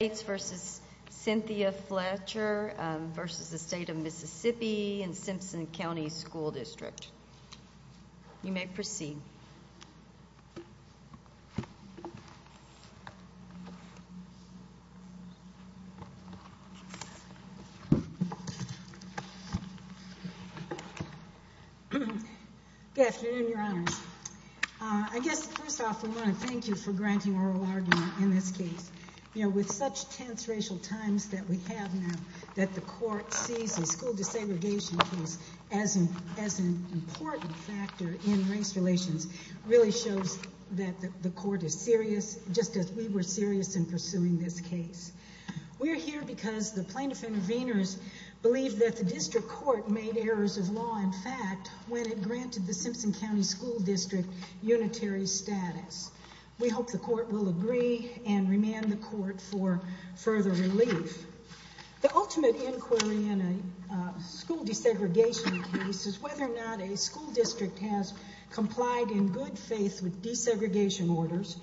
v. Cynthia Fletcher v. State of Mississippi and Simpson County School District. You may proceed. Good afternoon, Your Honors. I guess first off, we want to thank you for granting us the opportunity to be here today. We are here because the plaintiff interveners believed that the district court made errors of law in fact when it granted the Simpson County School District unitary status. We hope the court will agree and remand the court for further relief. The ultimate inquiry in a school desegregation case is whether or not a school district has complied in good faith with desegregation orders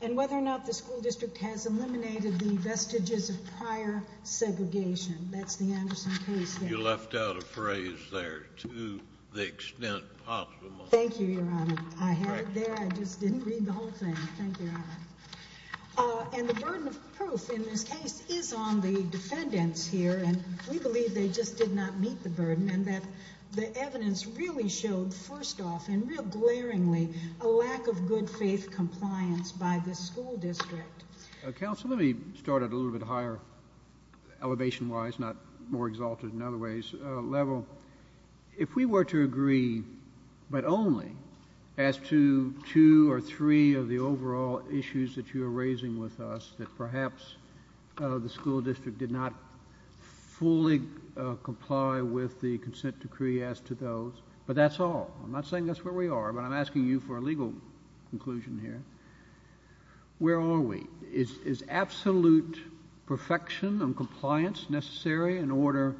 and whether or not the school district has eliminated the vestiges of prior segregation. That's the Anderson case there. You left out a phrase there, to the extent possible. Thank you, Your Honor. I had it there. I just didn't read the whole thing. Thank you, Your Honor. And the burden of proof in this case is on the defendants here, and we believe they just did not meet the burden and that the evidence really showed first off and real glaringly a lack of good faith compliance by the school district. Counsel, let me start at a little bit higher elevation wise, not more exalted in other ways level. If we were to agree, but only as to two or three of the overall issues that you're raising with us, that perhaps the school district did not fully comply with the consent decree as to those, but that's all. I'm not saying that's where we are, but I'm asking you for a legal conclusion here. Where are we? Is it necessary in order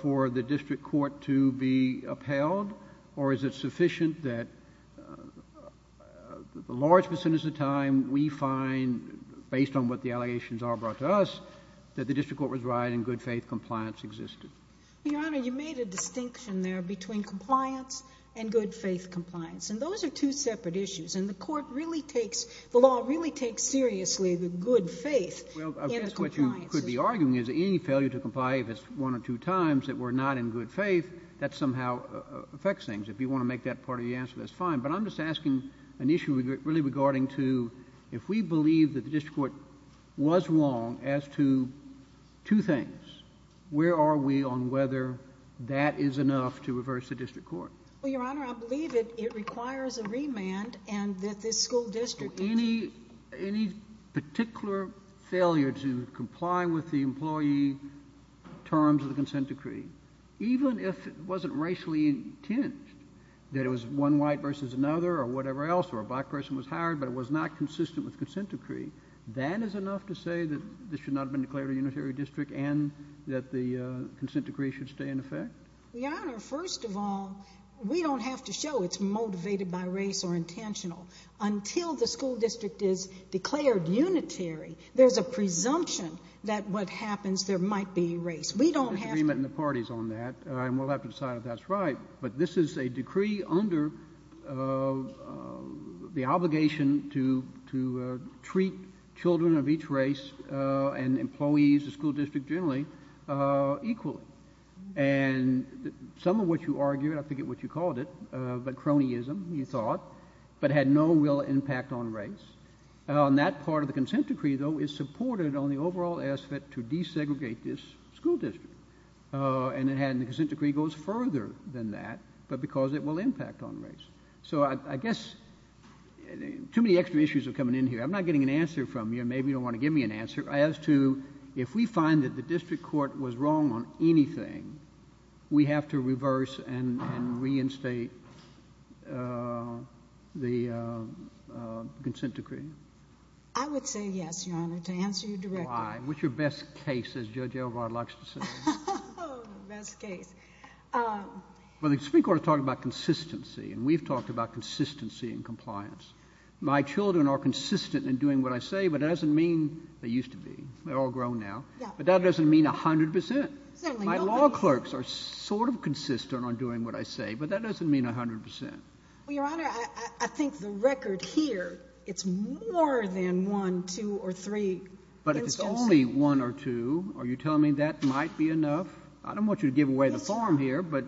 for the district court to be upheld, or is it sufficient that a large percentage of the time we find, based on what the allegations are brought to us, that the district court was right and good faith compliance existed? Your Honor, you made a distinction there between compliance and good faith compliance, and those are two separate issues. And the court really takes, the law really takes seriously the good faith in the compliances. Well, I believe failure to comply if it's one or two times that we're not in good faith, that somehow affects things. If you want to make that part of the answer, that's fine. But I'm just asking an issue really regarding to, if we believe that the district court was wrong as to two things, where are we on whether that is enough to reverse the district court? Well, Your Honor, I believe that it requires a remand and that the school district is. So any particular failure to comply with the employee terms of the consent decree, even if it wasn't racially intinged, that it was one white versus another or whatever else, or a black person was hired, but it was not consistent with the consent decree, that is enough to say that this should not have been declared a unitary district and that the consent decree should stay in effect? Your Honor, first of all, we don't have to show it's motivated by race or intentional. Until the school district is declared unitary, there's a presumption that what happens, there might be race. We don't have to. There's disagreement in the parties on that, and we'll have to decide if that's right. But this is a decree under the obligation to treat children of each race and employees, the school district generally, equally. And some of what you argued, I forget what you argued, but cronyism, you thought, but had no real impact on race. And that part of the consent decree, though, is supported on the overall aspect to desegregate this school district. And the consent decree goes further than that, but because it will impact on race. So I guess too many extra issues are coming in here. I'm not getting an answer from you. Maybe you don't want to give me an answer. As to if we find that the district court was wrong on anything, we have to reverse and reinstate the consent decree? I would say yes, Your Honor, to answer your direct question. Why? What's your best case, as Judge Elvar Lux would say? Best case. Well, the Supreme Court is talking about consistency, and we've talked about consistency and compliance. My children are consistent in doing what I say, but that doesn't mean they used to be. They're all grown now. But that doesn't mean 100 percent. My law clerks are sort of consistent on doing what I say, but that doesn't mean 100 percent. Well, Your Honor, I think the record here, it's more than one, two, or three instances. But if it's only one or two, are you telling me that might be enough? I don't want you to give away the farm here, but...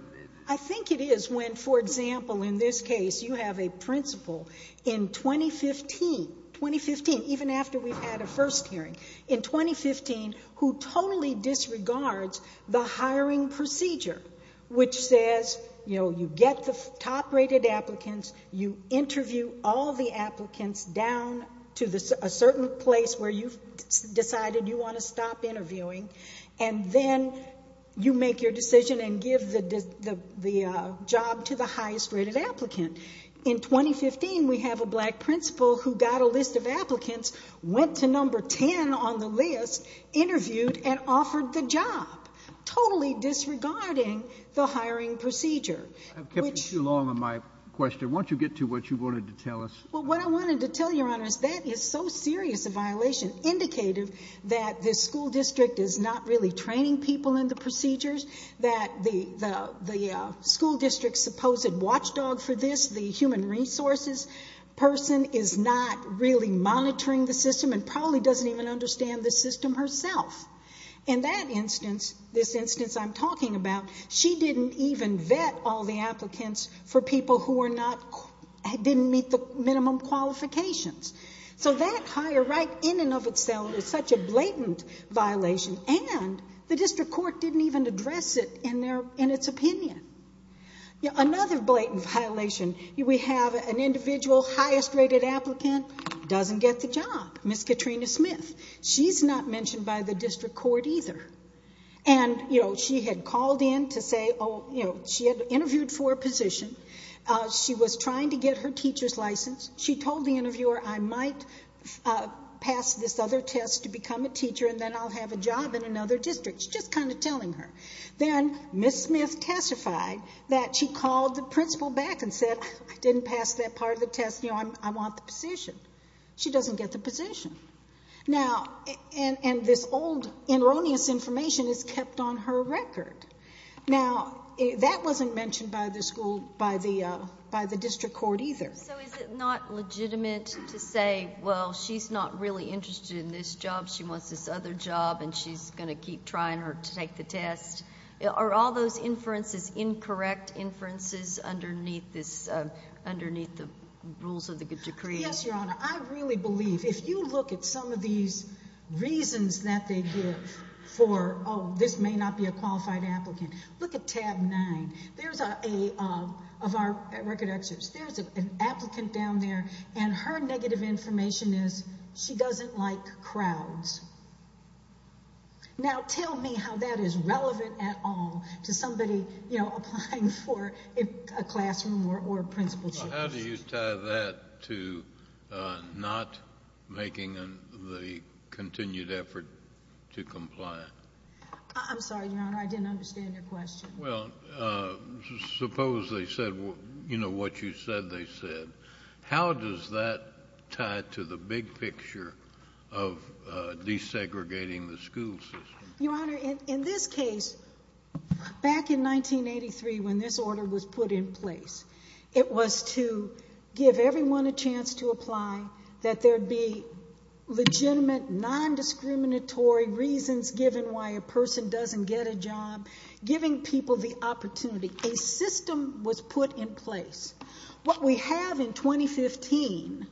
I think it is when, for example, in this case, you have a principal. In 2015, 2015, even after we've had a first hearing, in 2015, who totally disregards the hiring procedure, which says, you know, you get the top-rated applicants, you interview all the applicants down to a certain place where you've decided you want to stop interviewing, and then you make your decision and give the job to the highest-rated applicant. In 2015, we have a black principal who got a list of applicants, went to number 10 on the list, interviewed, and offered the job, totally disregarding the hiring procedure, which... I've kept you too long on my question. Why don't you get to what you wanted to tell us? Well, what I wanted to tell you, Your Honor, is that is so serious a violation, indicative that the school district is not really training people in the procedures, that the school district's supposed watchdog for this, the human resources person, is not really monitoring the system and probably doesn't even understand the system herself. In that instance, this instance I'm talking about, she didn't even vet all the applicants for people who are not...didn't meet the minimum qualifications. So that hire, right in and of itself, is such a blatant violation, and the district court didn't even address it in its opinion. Another blatant violation, we have an individual, highest-rated applicant, doesn't get the job, Ms. Katrina Smith. She's not mentioned by the district court either. And she had called in to say...she had interviewed for a position. She was trying to get her teacher's license. She told the interviewer, I might pass this other test to become a teacher and then I'll have a job in another district. She's just kind of telling her. Then Ms. Smith testified that she called the principal back and said, I didn't pass that part of the test, you know, I want the position. She doesn't get the position. Now, and this old erroneous information is kept on her record. Now, that wasn't mentioned by the school...by the district court either. So is it not legitimate to say, well, she's not really interested in this job, she wants this other job, and she's going to keep trying to take the test? Are all those inferences incorrect inferences underneath this...underneath the rules of the decree? Yes, Your Honor. I really believe, if you look at some of these reasons that they give for, oh, this may not be a qualified applicant, look at tab nine. There's a...of our record structures. There's an applicant down there, and her negative information is she doesn't like crowds. Now, tell me how that is relevant at all to somebody, you know, applying for a classroom or a principal's job. How do you tie that to not making the continued effort to comply? I'm sorry, Your Honor, I didn't understand your question. Well, suppose they said, you know, what you said they said. How does that tie to the big picture of desegregating the school system? Your Honor, in this case, back in 1983 when this order was put in place, it was to give everyone a chance to apply, that there be legitimate, non-discriminatory reasons given why a person doesn't get a job, giving people the opportunity. A system was put in place. What we have in 2015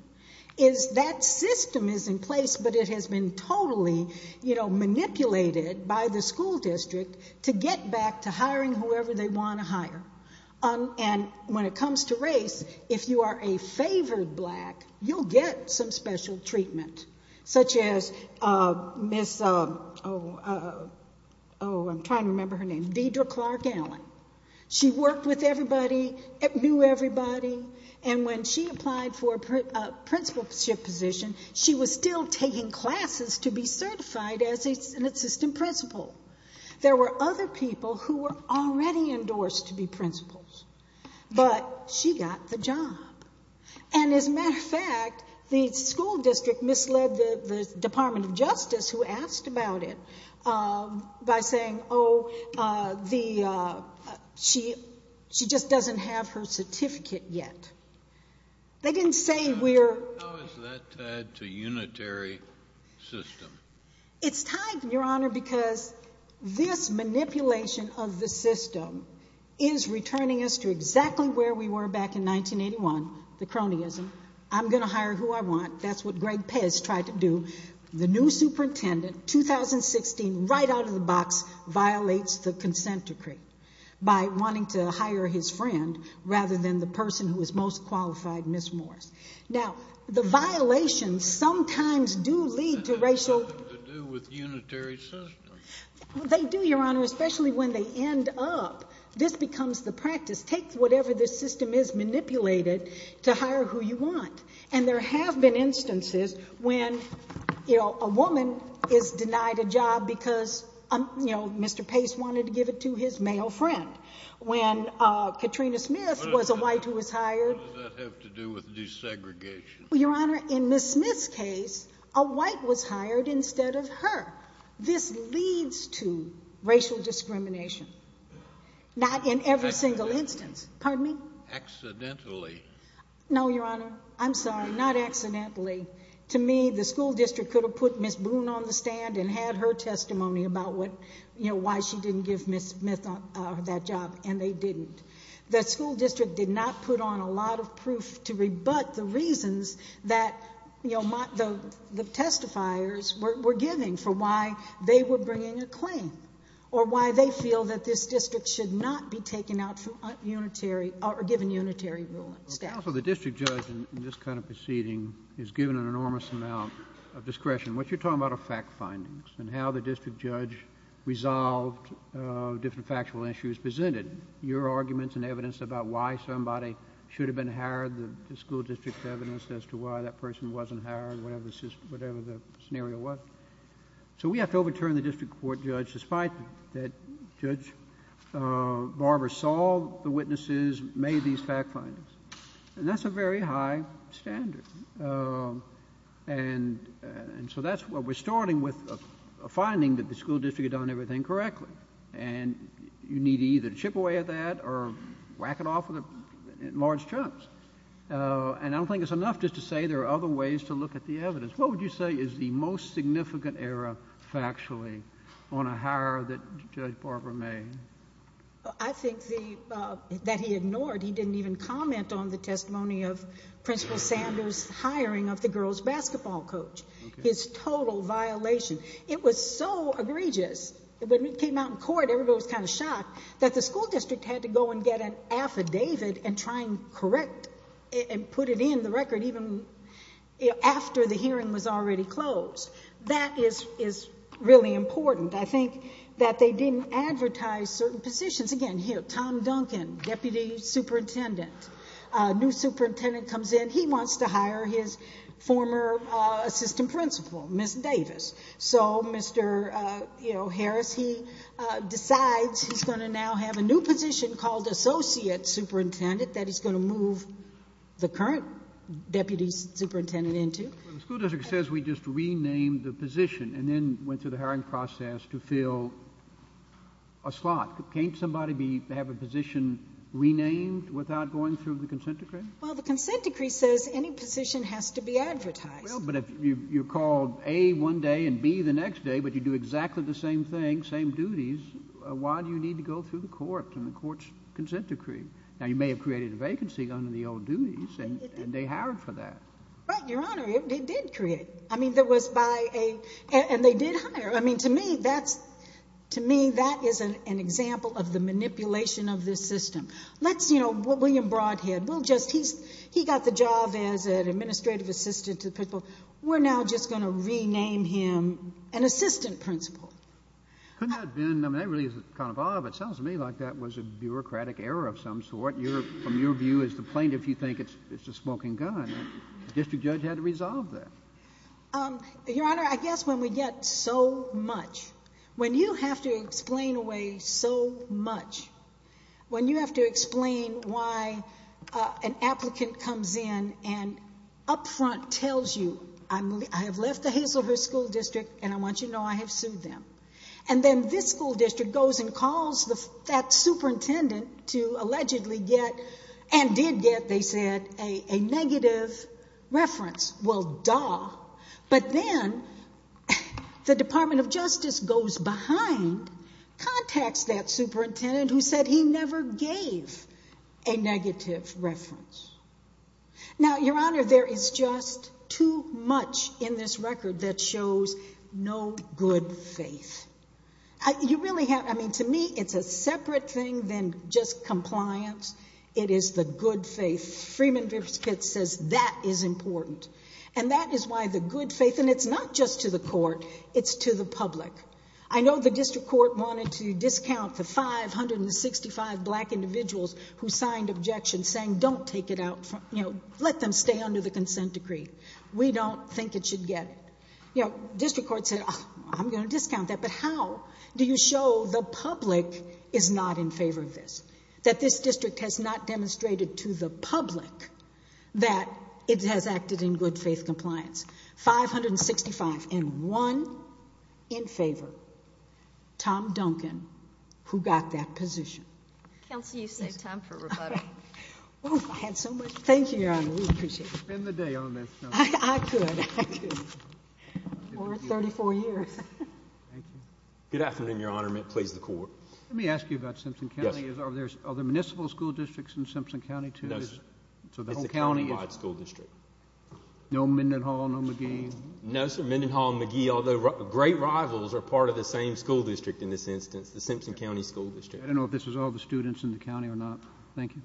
is that system is in place, but it has been totally, you know, manipulated by the school district to get back to hiring whoever they want to hire. And when it comes to race, if you are a favored black, you'll get some special treatment, such as Miss, oh, I'm trying to remember her name, Deidre Clark Allen. She worked with everybody, knew everybody, and when she applied for a principalship position, she was still taking classes to be certified as an assistant principal. There were other people who were already endorsed to be principals, but she got the job. And as a matter of fact, the school district misled the Department of Justice, who asked about it, by saying, oh, the, she just doesn't have her certificate yet. They didn't say we're... How is that tied to unitary system? It's tied, Your Honor, because this manipulation of the system is returning us to exactly where we were back in 1981, the cronyism. I'm going to hire who I want. That's what Greg Pez tried to do. The new superintendent, 2016, right out of the box, violates the consent decree by wanting to hire his friend rather than the person who is most qualified, Miss Morris. Now, the violations sometimes do lead to racial... That has nothing to do with unitary system. They do, Your Honor, especially when they end up. This becomes the practice. Take whatever this system is, manipulate it to hire who you want. And there have been instances when, you know, a woman is denied a job because, you know, Mr. Pace wanted to give it to his male friend. When Katrina Smith was a white who was hired... What does that have to do with desegregation? Your Honor, in Miss Smith's case, a white was hired instead of her. This leads to racial No, Your Honor. I'm sorry. Not accidentally. To me, the school district could have put Miss Boone on the stand and had her testimony about what, you know, why she didn't give Miss Smith that job, and they didn't. The school district did not put on a lot of proof to rebut the reasons that, you know, the testifiers were giving for why they were bringing a claim or why they feel that this district should not be taken out from unitary or given unitary rule. Counsel, the district judge in this kind of proceeding is given an enormous amount of discretion. What you're talking about are fact findings and how the district judge resolved different factual issues presented, your arguments and evidence about why somebody should have been hired, the school district's evidence as to why that person wasn't hired, whatever the scenario was. So we have to overturn the district court judge despite that Judge Barber saw the witnesses, made these fact findings. And that's a very high standard. And so that's what we're starting with, a finding that the school district had done everything correctly. And you need either to chip away at that or whack it off in large chunks. And I don't think it's enough just to say there are other ways to look at the evidence. What would you say is the most significant error factually on a hire that Judge Barber made? I think that he ignored, he didn't even comment on the testimony of Principal Sanders' hiring of the girls' basketball coach, his total violation. It was so egregious that when it came out in court, everybody was kind of shocked that the school district had to go and get an affidavit and try and correct and put it in the record even after the hearing was already closed. That is really important. I think that they didn't advertise certain positions. Again, here, Tom Duncan, Deputy Superintendent. A new superintendent comes in. He wants to hire his former assistant principal, Ms. Davis. So Mr. Harris, he decides he's going to now have a new position called Associate Superintendent that he's going to move the current Deputy Superintendent into. Well, the school district says we just renamed the position and then went through the hiring process to fill a slot. Can't somebody have a position renamed without going through the consent decree? Well, the consent decree says any position has to be advertised. Well, but if you're called A one day and B the next day, but you do exactly the same thing, same duties, why do you need to go through the court and the court's consent decree? Now, you may have created a vacancy under the old duties and they hired for that. Right, Your Honor. It did create. I mean, there was by a, and they did hire. I mean, to me, that's, to me, that is an example of the manipulation of this system. Let's, you know, what William Broadhead, we'll just, he's, he got the job as an administrative assistant to the principal. We're now just going to rename him an assistant principal. Couldn't that have been, I mean, that really is kind of odd, but it sounds to me like that was a bureaucratic error of some sort. You're, from your view as the plaintiff, you think it's, it's a smoking gun. The district judge had to resolve that. Your Honor, I guess when we get so much, when you have to explain away so much, when you have to explain why an applicant comes in and upfront tells you, I'm, I have left the Hazelhurst School District and I want you to know I have sued them. And then this school district goes and calls the, that superintendent to allegedly get and did get, they said, a negative reference. Well, duh. But then the Department of Justice goes behind, contacts that superintendent who said he never gave a negative reference. Now, Your Honor, there is just too much in this record that shows no good faith. You really have, I mean, to me, it's a separate thing than just compliance. It is the good faith. Freeman Vipskitt says that is important. And that is why the good faith, and it's not just to the court, it's to the public. I know the district court wanted to discount the 565 black individuals who we don't think it should get. You know, district court said, I'm going to discount that. But how do you show the public is not in favor of this? That this district has not demonstrated to the public that it has acted in good faith compliance. 565 and one in favor. Tom Duncan, who got that position. Counsel, you saved time for rebuttal. Oh, I had so much. Thank you, Your Honor. We appreciate it. Spend the day on this. I could. Or 34 years. Good afternoon, Your Honor. Please, the court. Let me ask you about Simpson County. Are there municipal school districts in Simpson County, too? No, sir. So the whole county is? It's a countywide school district. No Mendenhall, no McGee? No, sir. Mendenhall and McGee, although great rivals, are part of the same school district. In this instance, the Simpson County School District. I don't know if this is all the students in the county or not. Thank you,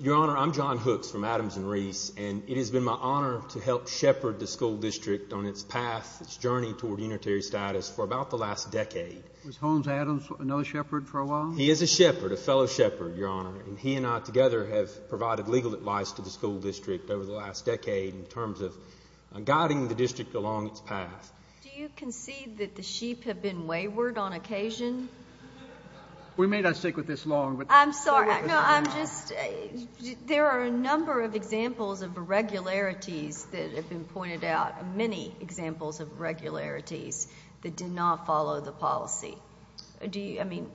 Your Honor. I'm John Hooks from Adams and Reese, and it has been my honor to help shepherd the school district on its path, its journey toward unitary status for about the last decade. Was Holmes Adams another shepherd for a while? He is a shepherd, a fellow shepherd, Your Honor, and he and I together have provided legal advice to the school district over the past. Do you concede that the sheep have been wayward on occasion? We may not stick with this long, but I'm sorry. No, I'm just there are a number of examples of irregularities that have been pointed out, many examples of irregularities that did not follow the policy. Do you? I mean,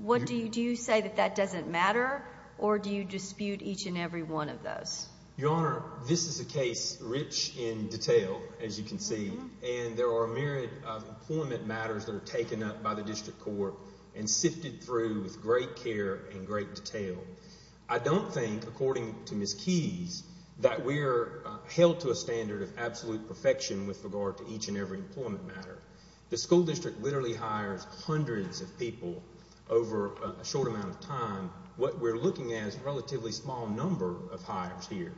what do you do? You say that that doesn't matter, or do you dispute each and every one of those? Your Honor, this is a case rich in detail, as you can see, and there are a myriad of employment matters that are taken up by the district court and sifted through with great care and great detail. I don't think, according to Miss Keyes, that we're held to a standard of absolute perfection with regard to each and every employment matter. The school district literally hires hundreds of people over a relatively small number of hires here,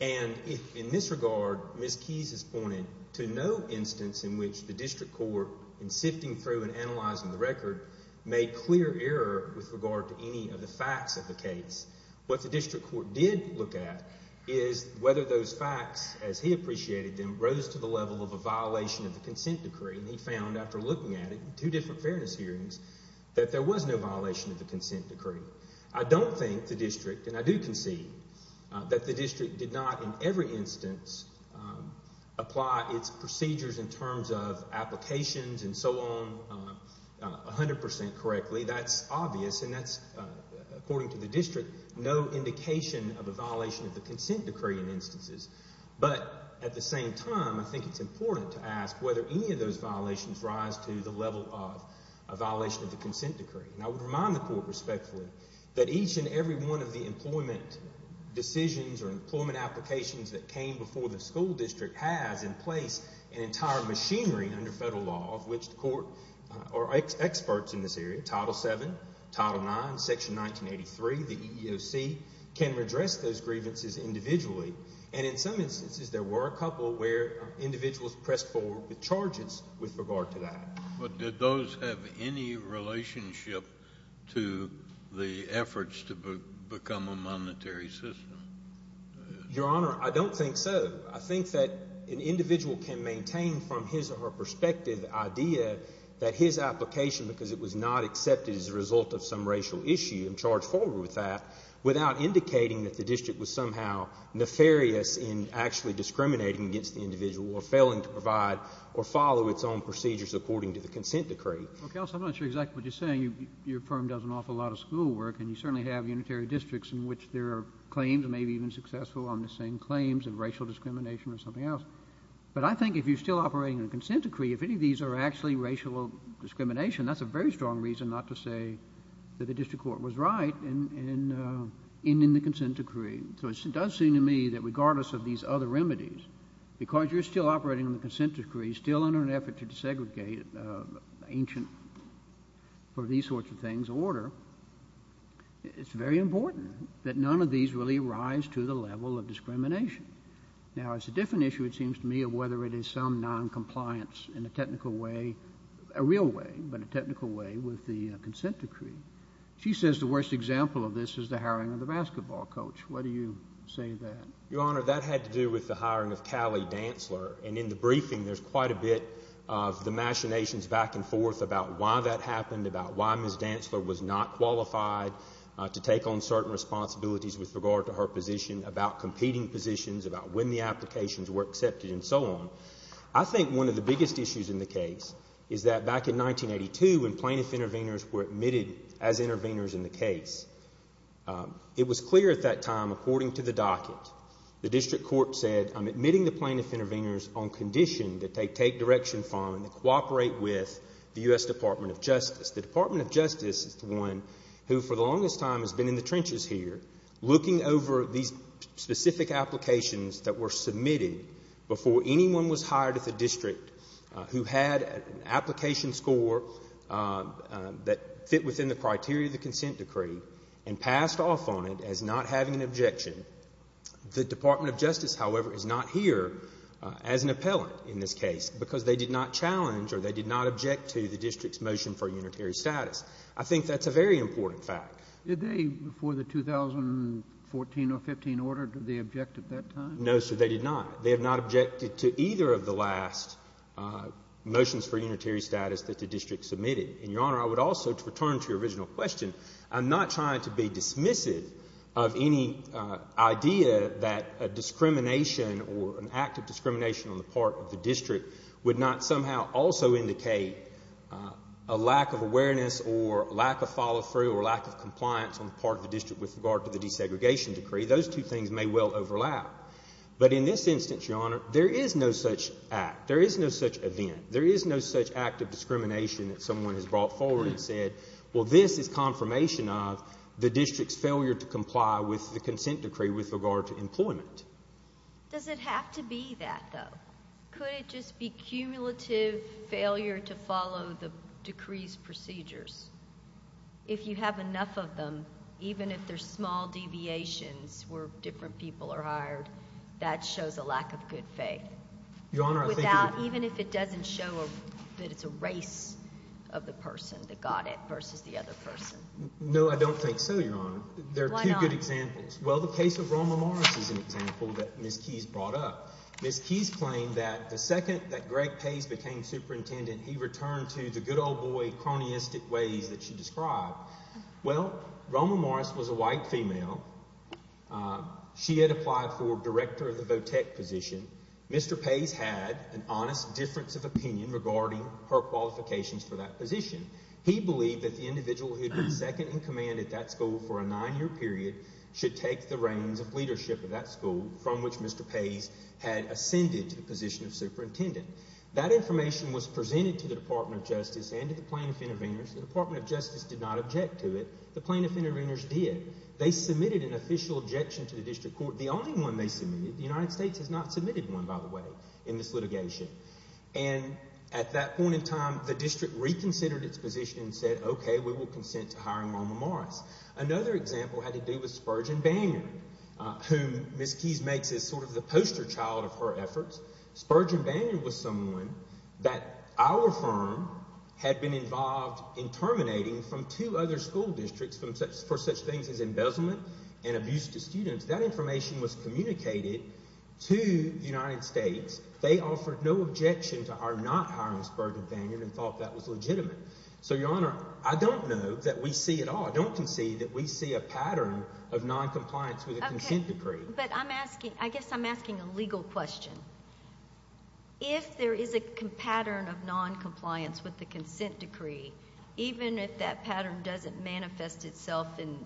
and in this regard, Miss Keyes has pointed to no instance in which the district court, in sifting through and analyzing the record, made clear error with regard to any of the facts of the case. What the district court did look at is whether those facts, as he appreciated them, rose to the level of a violation of the consent decree, and he found, after looking at it in two different fairness hearings, that there was no violation of the consent decree. I don't think the district, and I do concede that the district did not, in every instance, apply its procedures in terms of applications and so on 100% correctly. That's obvious, and that's, according to the district, no indication of a violation of the consent decree in instances. But, at the same time, I think it's important to ask whether any of those violations rise to the level of a violation of the consent decree. And I would remind the court, respectfully, that each and every one of the employment decisions or employment applications that came before the school district has in place an entire machinery under federal law of which the court, or experts in this area, Title VII, Title IX, Section 1983, the EEOC, can redress those grievances individually, and in some instances, there were a couple where individuals pressed forward with charges with regard to that. But did those have any relationship to the efforts to become a monetary system? Your Honor, I don't think so. I think that an individual can maintain, from his or her perspective, the idea that his application, because it was not accepted as a result of some racial issue, and charged forward with that, without indicating that the district was somehow nefarious in actually discriminating against the individual or failing to provide or follow its own procedures according to the consent decree. Counsel, I'm not sure exactly what you're saying. Your firm does an awful lot of school work, and you certainly have unitary districts in which there are claims, maybe even successful on the same claims, of racial discrimination or something else. But I think if you're still operating on a consent decree, if any of these are actually racial discrimination, that's a very strong reason not to say that the district court was right in ending the consent decree. So it does seem to me that regardless of these other remedies, because you're still operating on the consent decree, still in an effort to desegregate ancient, or these sorts of things, order, it's very important that none of these really rise to the level of discrimination. Now, it's a different issue, it seems to me, of whether it is some noncompliance in a technical way, a real way, but a technical way, with the consent decree. She says the worst example of this is the hiring of the basketball coach. Why do you say that? Your Honor, that had to do with the hiring of Callie Dantzler. And in the briefing, there's quite a bit of the machinations back and forth about why that happened, about why Ms. Dantzler was not qualified to take on certain responsibilities with regard to her position, about competing positions, about when the applications were accepted, and so on. I think one of the biggest issues in the case is that back in 1982, when plaintiff intervenors were admitted as intervenors in the case, it was clear at that time, according to the docket, the district court said, I'm admitting the plaintiff intervenors on condition that they take direction from and cooperate with the U.S. Department of Justice. The Department of Justice is the one who, for the longest time, has been in the trenches here, looking over these specific applications that were submitted before anyone was hired at the district who had an application score that fit within the criteria of the consent decree and passed off on it as not having an objection. The Department of Justice, however, is not here as an appellant in this case because they did not challenge or they did not object to the district's motion for unitary status. I think that's a very important fact. Did they, before the 2014 or 15 order, did they object at that time? No, sir, they did not. They have not objected to either of the last motions for unitary status that the district submitted. And, Your Honor, I would also, to return to your original question, I'm not trying to be dismissive of any idea that a discrimination or an act of discrimination on the part of the district would not somehow also indicate a lack of awareness or lack of follow-through or lack of compliance on the part of the district with regard to the desegregation decree. Those two things may well overlap. But in this instance, Your Honor, there is no such act, there is no such event, there is no such act of discrimination that someone has brought forward and said, well, this is confirmation of the district's failure to comply with the consent decree with regard to employment. Does it have to be that, though? Could it just be cumulative failure to follow the decree's procedures? If you have enough of them, even if they're small deviations where different people are hired, that shows a lack of good faith. Even if it doesn't show that it's a race of the person that got it versus the other person. No, I don't think so, Your Honor. Why not? There are two good examples. Well, the case of Roma Morris is an example that Ms. Keyes brought up. Ms. Keyes claimed that the second that Greg Pace became superintendent, he returned to the good old boy, cronyistic ways that she described. Well, Roma Morris was a white female. She had applied for director of the vo-tech position. Mr. Pace had an honest difference of opinion regarding her qualifications for that position. He believed that the individual who had been second in command at that school for a nine-year period should take the reins of leadership of that school, from which Mr. Pace had ascended to the position of superintendent. That information was presented to the Department of Justice and to the plaintiff intervenors. The Department of Justice did not object to it. The plaintiff intervenors did. They submitted an official objection to the district court. The only one they submitted, the United States has not submitted one, by the way, in this litigation. And at that point in time, the district reconsidered its position and said, okay, we will consent to hiring Roma Morris. Another example had to do with Spurgeon Bannion, whom Ms. Keyes makes as sort of the poster child of her efforts. Spurgeon Bannion was someone that our firm had been involved in terminating from two other school districts for such things as embezzlement and abuse to students. That information was communicated to the United States. They offered no objection to our not hiring Spurgeon Bannion and thought that was legitimate. So, Your Honor, I don't know that we see at all, I don't concede that we see a pattern of noncompliance with the consent decree. Okay, but I'm asking, I guess I'm asking a legal question. If there is a pattern of noncompliance with the consent decree, even if that pattern doesn't manifest itself in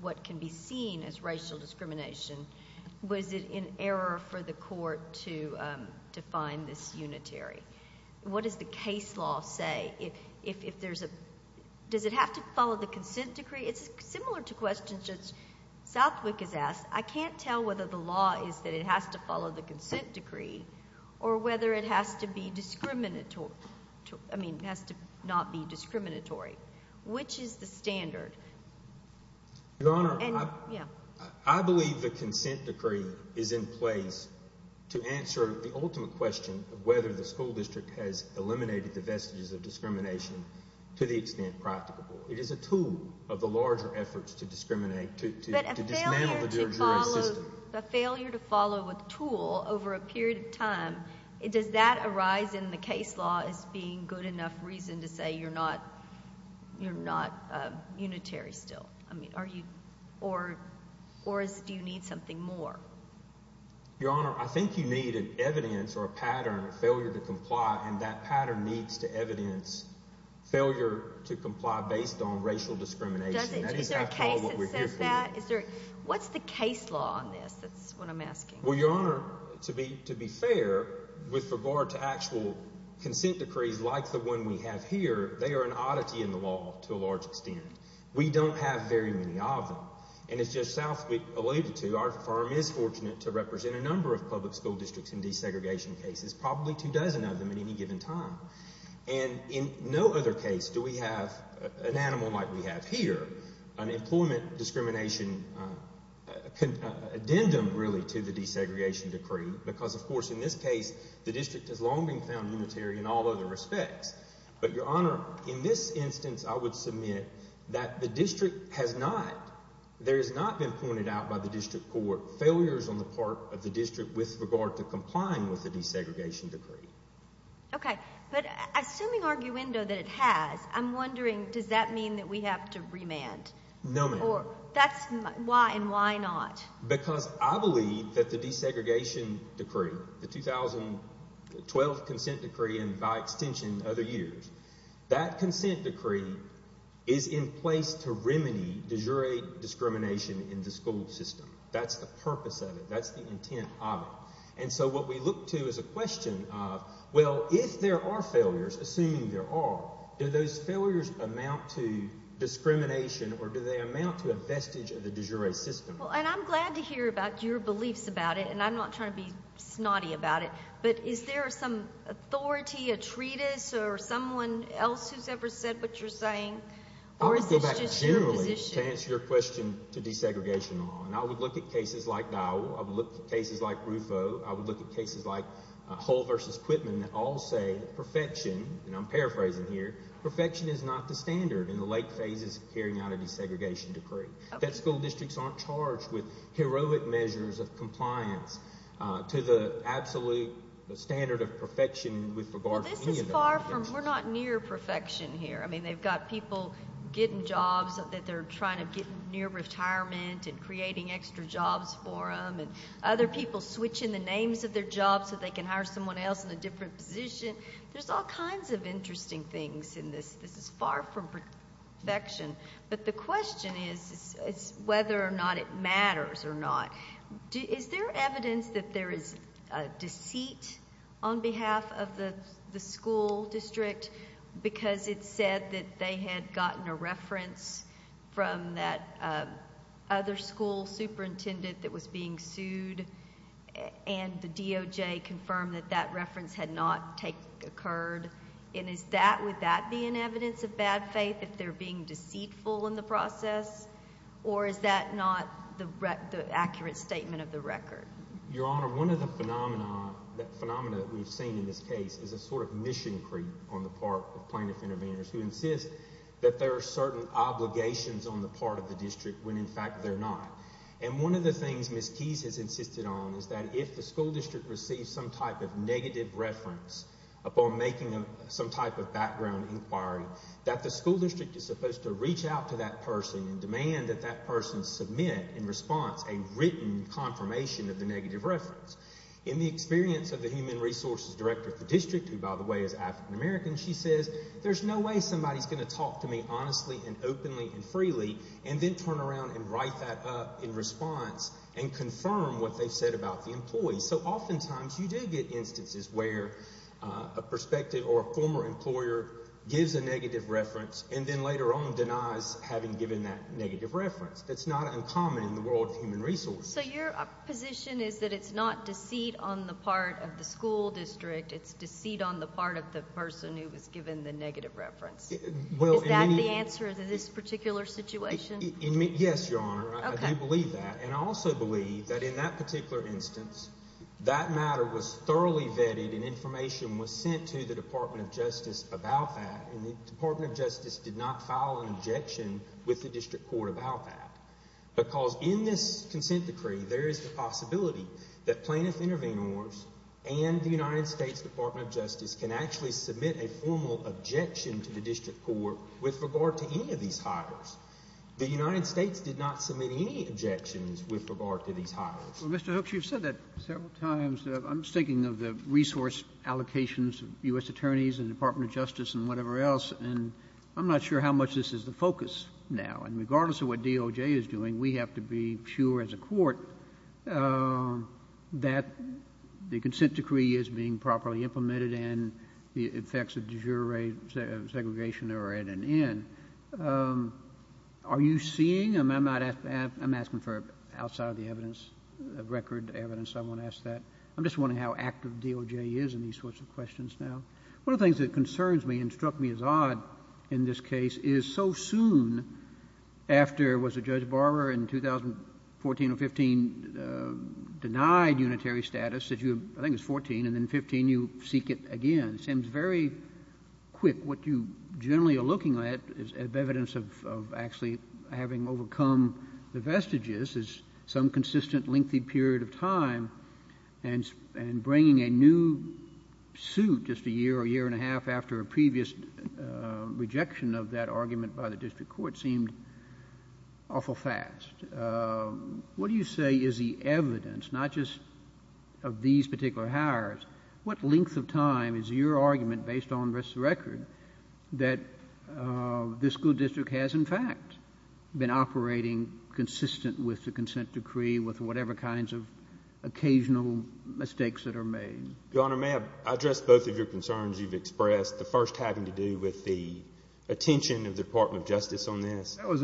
what can be seen as racial discrimination, was it in error for the court to define this unitary? What does the case law say? If there's a, does it have to follow the consent decree? It's similar to questions that Southwick has asked. I can't tell whether the law is that it has to follow the consent decree or whether it has to be discriminatory, I mean, has to not be discriminatory. Which is the standard? Your Honor, I believe the consent decree is in place to answer the ultimate question of whether the school district has eliminated the vestiges of discrimination to the extent practicable. It is a tool of the larger efforts to discriminate, to dismantle the jury system. But a failure to follow, a failure to follow a tool over a period of time, does that arise in the case law as being good enough reason to say you're not unitary still? I mean, are you, or do you need something more? Your Honor, I think you need an evidence or a pattern of failure to comply, and that pattern needs to evidence failure to comply based on racial discrimination. Does it? Is there a case that says that? What's the case law on this? That's what I'm asking. Well, Your Honor, to be fair, with regard to actual consent decrees like the one we have here, they are an oddity in the law to a large extent. We don't have very many of them. And it's just south related to, our firm is fortunate to represent a number of public school districts in desegregation cases, probably two dozen of them at any given time. And in no other case do we have an animal like we have here, an employment discrimination addendum really to the desegregation decree, because of course in this case the district has long been found unitary in all other respects. But Your Honor, in this instance I would submit that the district has not, there has not been pointed out by the district court failures on the part of the district with regard to complying with the desegregation decree. Okay, but assuming arguendo that it has, I'm wondering, does that mean that we have to remand? No, ma'am. That's why and why not? Because I believe that the desegregation decree, the 2012 consent decree and by extension other years, that consent decree is in place to remedy de jure discrimination in the school system. That's the purpose of it. That's the intent of it. And so what we look to is a question of, well, if there are failures, assuming there are, do those failures amount to discrimination or do they amount to a vestige of the de jure system? Well, and I'm glad to hear about your beliefs about it, and I'm not trying to be snotty about it, but is there some authority, a treatise, or someone else who's ever said what you're Or is this just your position? I would go back generally to answer your question to desegregation law. And I would look at cases like Dowell, I would look at cases like Rufo, I would look at cases like Hull v. Quitman that all say perfection, and I'm paraphrasing here, perfection is not the standard in the late phases of carrying out a desegregation decree. That school districts aren't charged with heroic measures of compliance to the absolute standard of perfection with regard to any of the arguments. Well, this is far from, we're not near perfection here. I mean, they've got people getting jobs that they're trying to get near retirement and creating extra jobs for them, and other people switching the names of their jobs so they can hire someone else in a different position. There's all kinds of interesting things in this. This is far from perfection. But the question is whether or not it matters or not. Is there evidence that there is deceit on behalf of the school district because it's said that they had gotten a reference from that other school superintendent that was being sued, and the DOJ confirmed that that reference had not occurred, and is that, would that be an evidence of bad faith if they're being deceitful in the process? Or is that not the accurate statement of the record? Your Honor, one of the phenomena that we've seen in this case is a sort of mission creep on the part of plaintiff intervenors who insist that there are certain obligations on the part of the district when in fact they're not. And one of the things Ms. Keyes has insisted on is that if the school district receives some type of negative reference upon making some type of background inquiry, that the school district is supposed to reach out to that person and demand that that person submit in response a written confirmation of the negative reference. In the experience of the human resources director of the district, who by the way is African American, she says there's no way somebody's going to talk to me honestly and openly and freely and then turn around and write that up in response and confirm what they've said about the employee. So oftentimes you do get instances where a prospective or a former employer gives a negative reference and then later on denies having given that negative reference. That's not uncommon in the world of human resources. So your position is that it's not deceit on the part of the school district. It's deceit on the part of the person who was given the negative reference. Is that the answer to this particular situation? Yes, Your Honor. I do believe that. And I also believe that in that particular instance, that matter was thoroughly vetted and information was sent to the Department of Justice about that. And the Department of Justice did not file an objection with the district court about that because in this consent decree there is the possibility that plaintiff intervenors and the United States Department of Justice can actually submit a formal objection to the district court with regard to any of these hires. The United States did not submit any objections with regard to these hires. Well, Mr. Hooks, you've said that several times. I was thinking of the resource allocations of U.S. attorneys and the Department of Justice and whatever else, and I'm not sure how much this is the focus now. And regardless of what DOJ is doing, we have to be sure as a court that the consent decree is being properly implemented and the effects of de jure segregation are at an end. Are you seeing them? I'm asking for outside of the evidence, record evidence. I want to ask that. I'm just wondering how active DOJ is in these sorts of questions now. One of the things that concerns me and struck me as odd in this case is so soon after, was it Judge Barber in 2014 or 2015, denied unitary status, I think it was 2014, and then in 2015 you seek it again. It seems very quick. What you generally are looking at is evidence of actually having overcome the vestiges some consistent lengthy period of time and bringing a new suit just a year or year and a half after a previous rejection of that argument by the district court seemed awful fast. What do you say is the evidence, not just of these particular hires, what length of time is your argument based on the rest of the record that this school district has in fact been operating consistent with the consent decree with whatever kinds of occasional mistakes that are made? Your Honor, may I address both of your concerns you've expressed, the first having to do with the attention of the Department of Justice on this? That was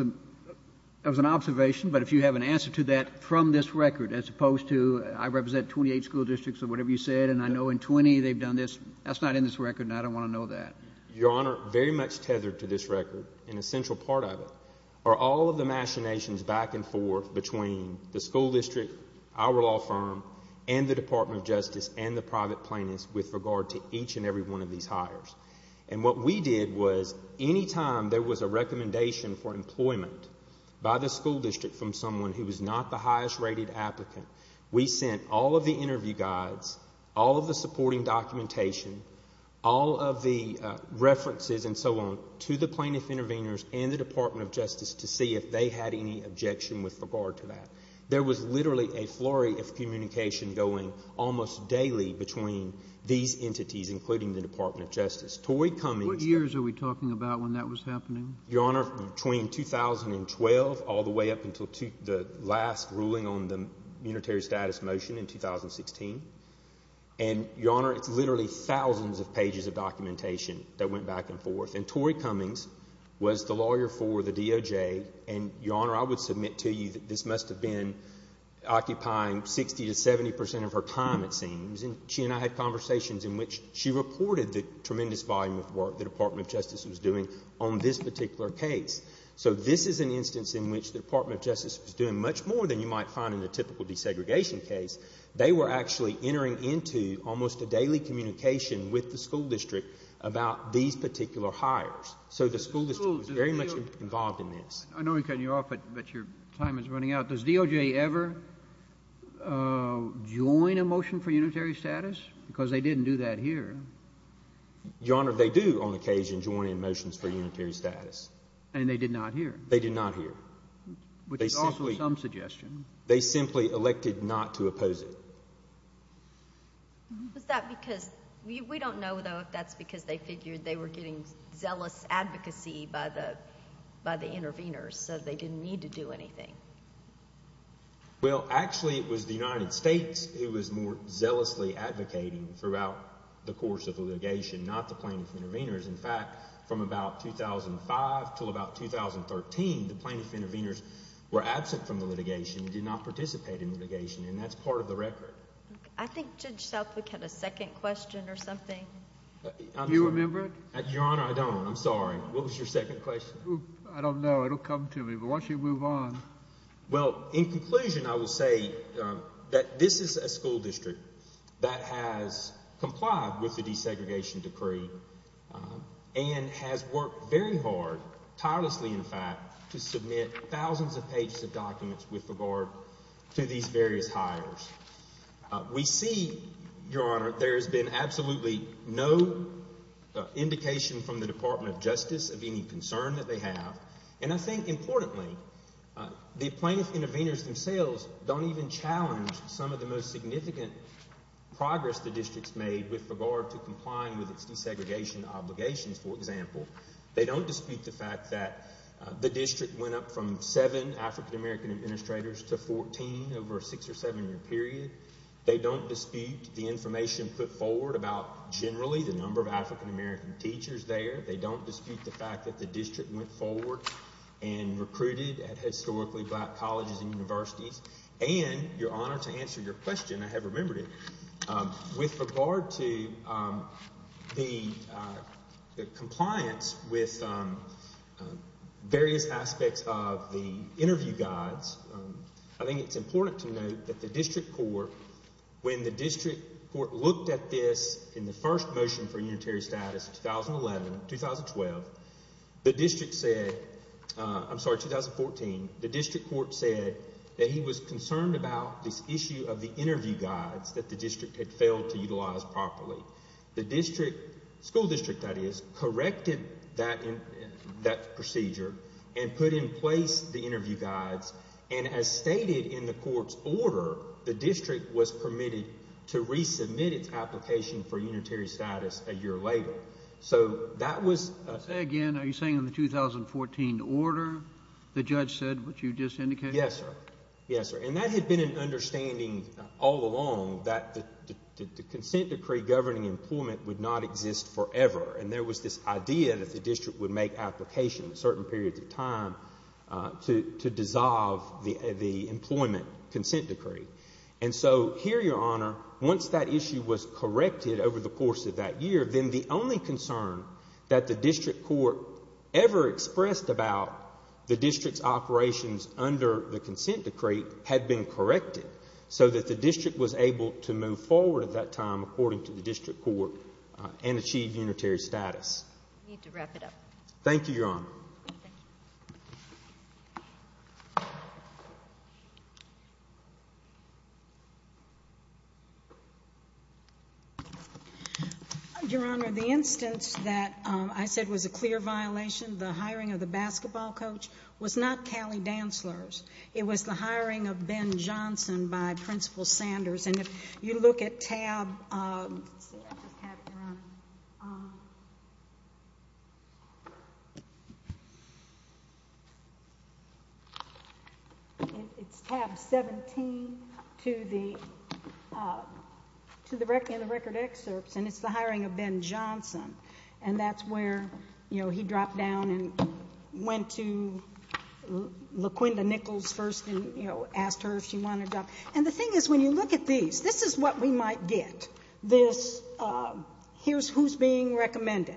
an observation, but if you have an answer to that from this record as opposed to I represent 28 school districts or whatever you said and I know in 20 they've done this, that's not in this record and I don't want to know that. Your Honor, very much tethered to this record and a central part of it are all of the machinations back and forth between the school district, our law firm and the Department of Justice and the private plaintiffs with regard to each and every one of these hires. And what we did was any time there was a recommendation for employment by the school district from someone who was not the highest rated applicant, we sent all of the interview guides, all of the supporting documentation, all of the references and so on to the plaintiff intervenors and the Department of Justice to see if they had any objection with regard to that. There was literally a flurry of communication going almost daily between these entities, including the Department of Justice. What years are we talking about when that was happening? Your Honor, between 2012 all the way up until the last ruling on the unitary status motion in 2016. And, Your Honor, it's literally thousands of pages of documentation that went back and forth. And Tori Cummings was the lawyer for the DOJ. And, Your Honor, I would submit to you that this must have been occupying 60% to 70% of her time it seems. And she and I had conversations in which she reported the tremendous volume of work the Department of Justice was doing on this particular case. So this is an instance in which the Department of Justice was doing much more than you might find in a typical desegregation case. They were actually entering into almost a daily communication with the school district about these particular hires. So the school district was very much involved in this. I know we're cutting you off, but your time is running out. Does DOJ ever join a motion for unitary status? Because they didn't do that here. Your Honor, they do on occasion join in motions for unitary status. And they did not here. They did not here. Which is also some suggestion. They simply elected not to oppose it. Was that because—we don't know, though, if that's because they figured they were getting zealous advocacy by the intervenors, so they didn't need to do anything. Well, actually it was the United States who was more zealously advocating throughout the course of the litigation, not the plaintiff intervenors. In fact, from about 2005 until about 2013, the plaintiff intervenors were absent from the litigation and did not participate in litigation. And that's part of the record. I think Judge Southwick had a second question or something. Do you remember it? Your Honor, I don't. I'm sorry. What was your second question? I don't know. It will come to me. But why don't you move on? Well, in conclusion, I will say that this is a school district that has complied with the desegregation decree and has worked very hard, tirelessly in fact, to submit thousands of pages of documents with regard to these various hires. We see, Your Honor, there has been absolutely no indication from the Department of Justice of any concern that they have. And I think importantly, the plaintiff intervenors themselves don't even challenge some of the most significant progress the district has made with regard to complying with its desegregation obligations, for example. They don't dispute the fact that the district went up from seven African-American administrators to 14 over a six- or seven-year period. They don't dispute the information put forward about generally the number of African-American teachers there. They don't dispute the fact that the district went forward and recruited at historically black colleges and universities. And, Your Honor, to answer your question, I have remembered it, with regard to the compliance with various aspects of the interview guides, I think it's important to note that the district court, when the district court looked at this in the first motion for unitary status in 2011-2012, the district said, I'm sorry, 2014, the district court said that he was concerned about this issue of the interview guides that the district had failed to utilize properly. The school district, that is, corrected that procedure and put in place the interview guides. And as stated in the court's order, the district was permitted to resubmit its application for unitary status a year later. So that was… Say again, are you saying in the 2014 order the judge said what you just indicated? Yes, sir. Yes, sir. And that had been an understanding all along that the consent decree governing employment would not exist forever. And there was this idea that the district would make applications at certain periods of time to dissolve the employment consent decree. And so here, Your Honor, once that issue was corrected over the course of that year, then the only concern that the district court ever expressed about the district's operations under the consent decree had been corrected so that the district was able to move forward at that time, according to the district court, and achieve unitary status. I need to wrap it up. Thank you, Your Honor. Thank you. Thank you. Your Honor, the instance that I said was a clear violation, the hiring of the basketball coach, was not Callie Dantzler's. It was the hiring of Ben Johnson by Principal Sanders. And if you look at tab 17 in the record excerpts, and it's the hiring of Ben Johnson. And that's where he dropped down and went to LaQuinda Nichols first and asked her if she wanted a job. And the thing is, when you look at these, this is what we might get, this here's who's being recommended.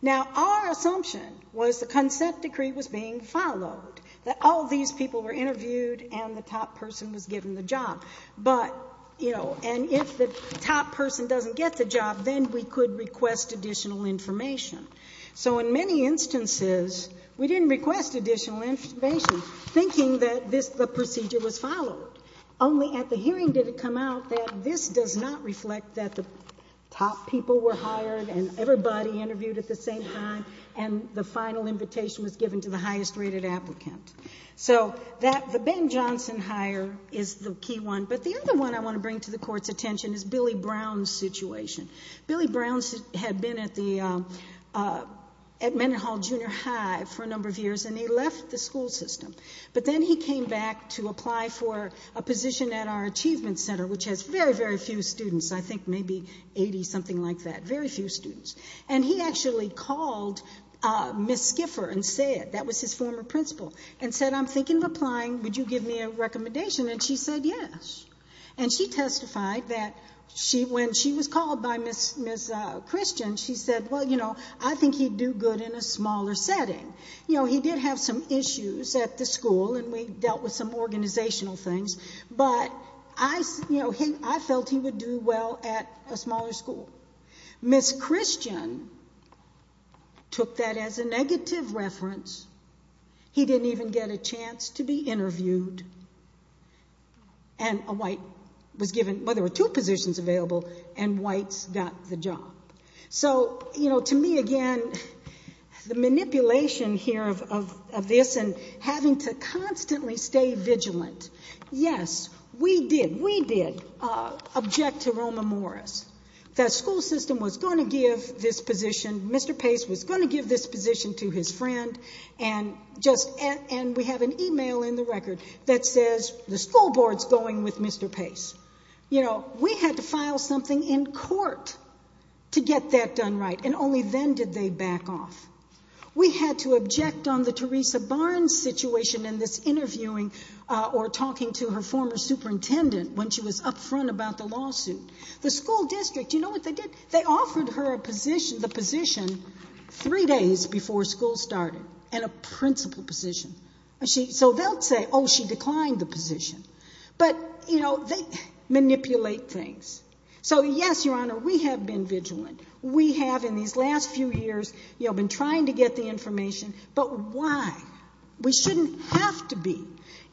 Now, our assumption was the consent decree was being followed, that all these people were interviewed and the top person was given the job. But, you know, and if the top person doesn't get the job, then we could request additional information. So in many instances, we didn't request additional information, thinking that this, the procedure was followed. Only at the hearing did it come out that this does not reflect that the top people were hired and everybody interviewed at the same time, and the final invitation was given to the highest rated applicant. So that, the Ben Johnson hire is the key one. But the other one I want to bring to the Court's attention is Billy Brown's situation. Billy Brown had been at the, at Mendenhall Junior High for a number of years, and he left the school system. But then he came back to apply for a position at our Achievement Center, which has very, very few students, I think maybe 80, something like that, very few students. And he actually called Miss Skiffer and said, that was his former principal, and said, I'm thinking of applying, would you give me a recommendation? And she said yes. And she testified that when she was called by Miss Christian, she said, well, you know, I think he'd do good in a smaller setting. You know, he did have some issues at the school, and we dealt with some organizational things, but I felt he would do well at a smaller school. Miss Christian took that as a negative reference. He didn't even get a chance to be interviewed. And a white was given, well, there were two positions available, and whites got the job. So, you know, to me, again, the manipulation here of this and having to constantly stay vigilant. Yes, we did, we did object to Roma Morris. The school system was going to give this position, Mr. Pace was going to give this position to his friend, and we have an e-mail in the record that says the school board's going with Mr. Pace. You know, we had to file something in court to get that done right, and only then did they back off. We had to object on the Teresa Barnes situation and this interviewing or talking to her former superintendent when she was up front about the lawsuit. The school district, you know what they did? They offered her the position three days before school started, and a principal position. So they'll say, oh, she declined the position. But, you know, they manipulate things. So, yes, Your Honor, we have been vigilant. We have, in these last few years, you know, been trying to get the information, but why? We shouldn't have to be.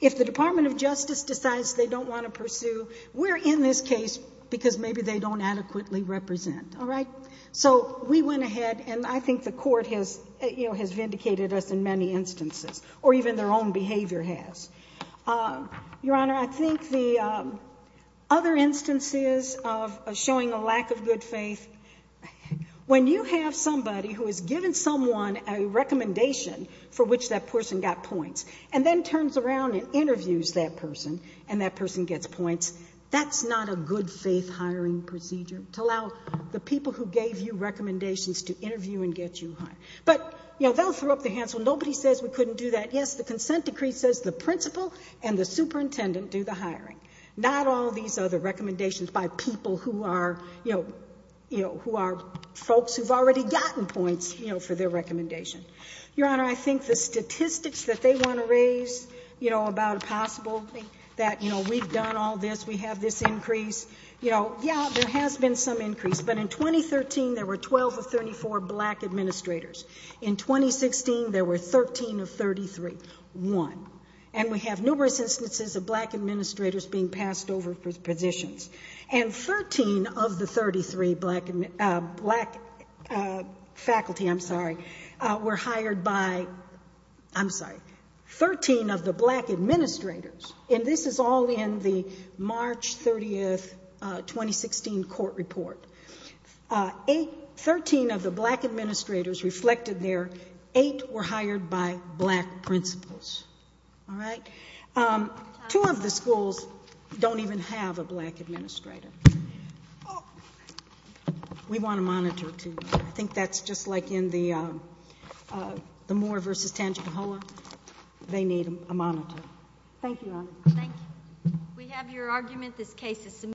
If the Department of Justice decides they don't want to pursue, we're in this case because maybe they don't adequately represent. All right? So we went ahead, and I think the court has vindicated us in many instances, or even their own behavior has. Your Honor, I think the other instances of showing a lack of good faith, when you have somebody who has given someone a recommendation for which that person got points and then turns around and interviews that person and that person gets points, that's not a good faith hiring procedure to allow the people who gave you recommendations to interview and get you hired. But, you know, they'll throw up their hands. Well, nobody says we couldn't do that. Yes, the consent decree says the principal and the superintendent do the hiring. Not all these other recommendations by people who are, you know, who are folks who've already gotten points, you know, for their recommendation. Your Honor, I think the statistics that they want to raise, you know, about a possible that, you know, we've done all this, we have this increase, you know, yeah, there has been some increase. But in 2013, there were 12 of 34 black administrators. In 2016, there were 13 of 33. One. And we have numerous instances of black administrators being passed over positions. And 13 of the 33 black faculty, I'm sorry, were hired by, I'm sorry, 13 of the black administrators. And this is all in the March 30th, 2016 court report. Eight, 13 of the black administrators reflected there, eight were hired by black principals. All right? Two of the schools don't even have a black administrator. We want to monitor, too. I think that's just like in the Moore v. Tangipahoa. They need a monitor. Thank you, Your Honor. Thank you. We have your argument. This case is submitted.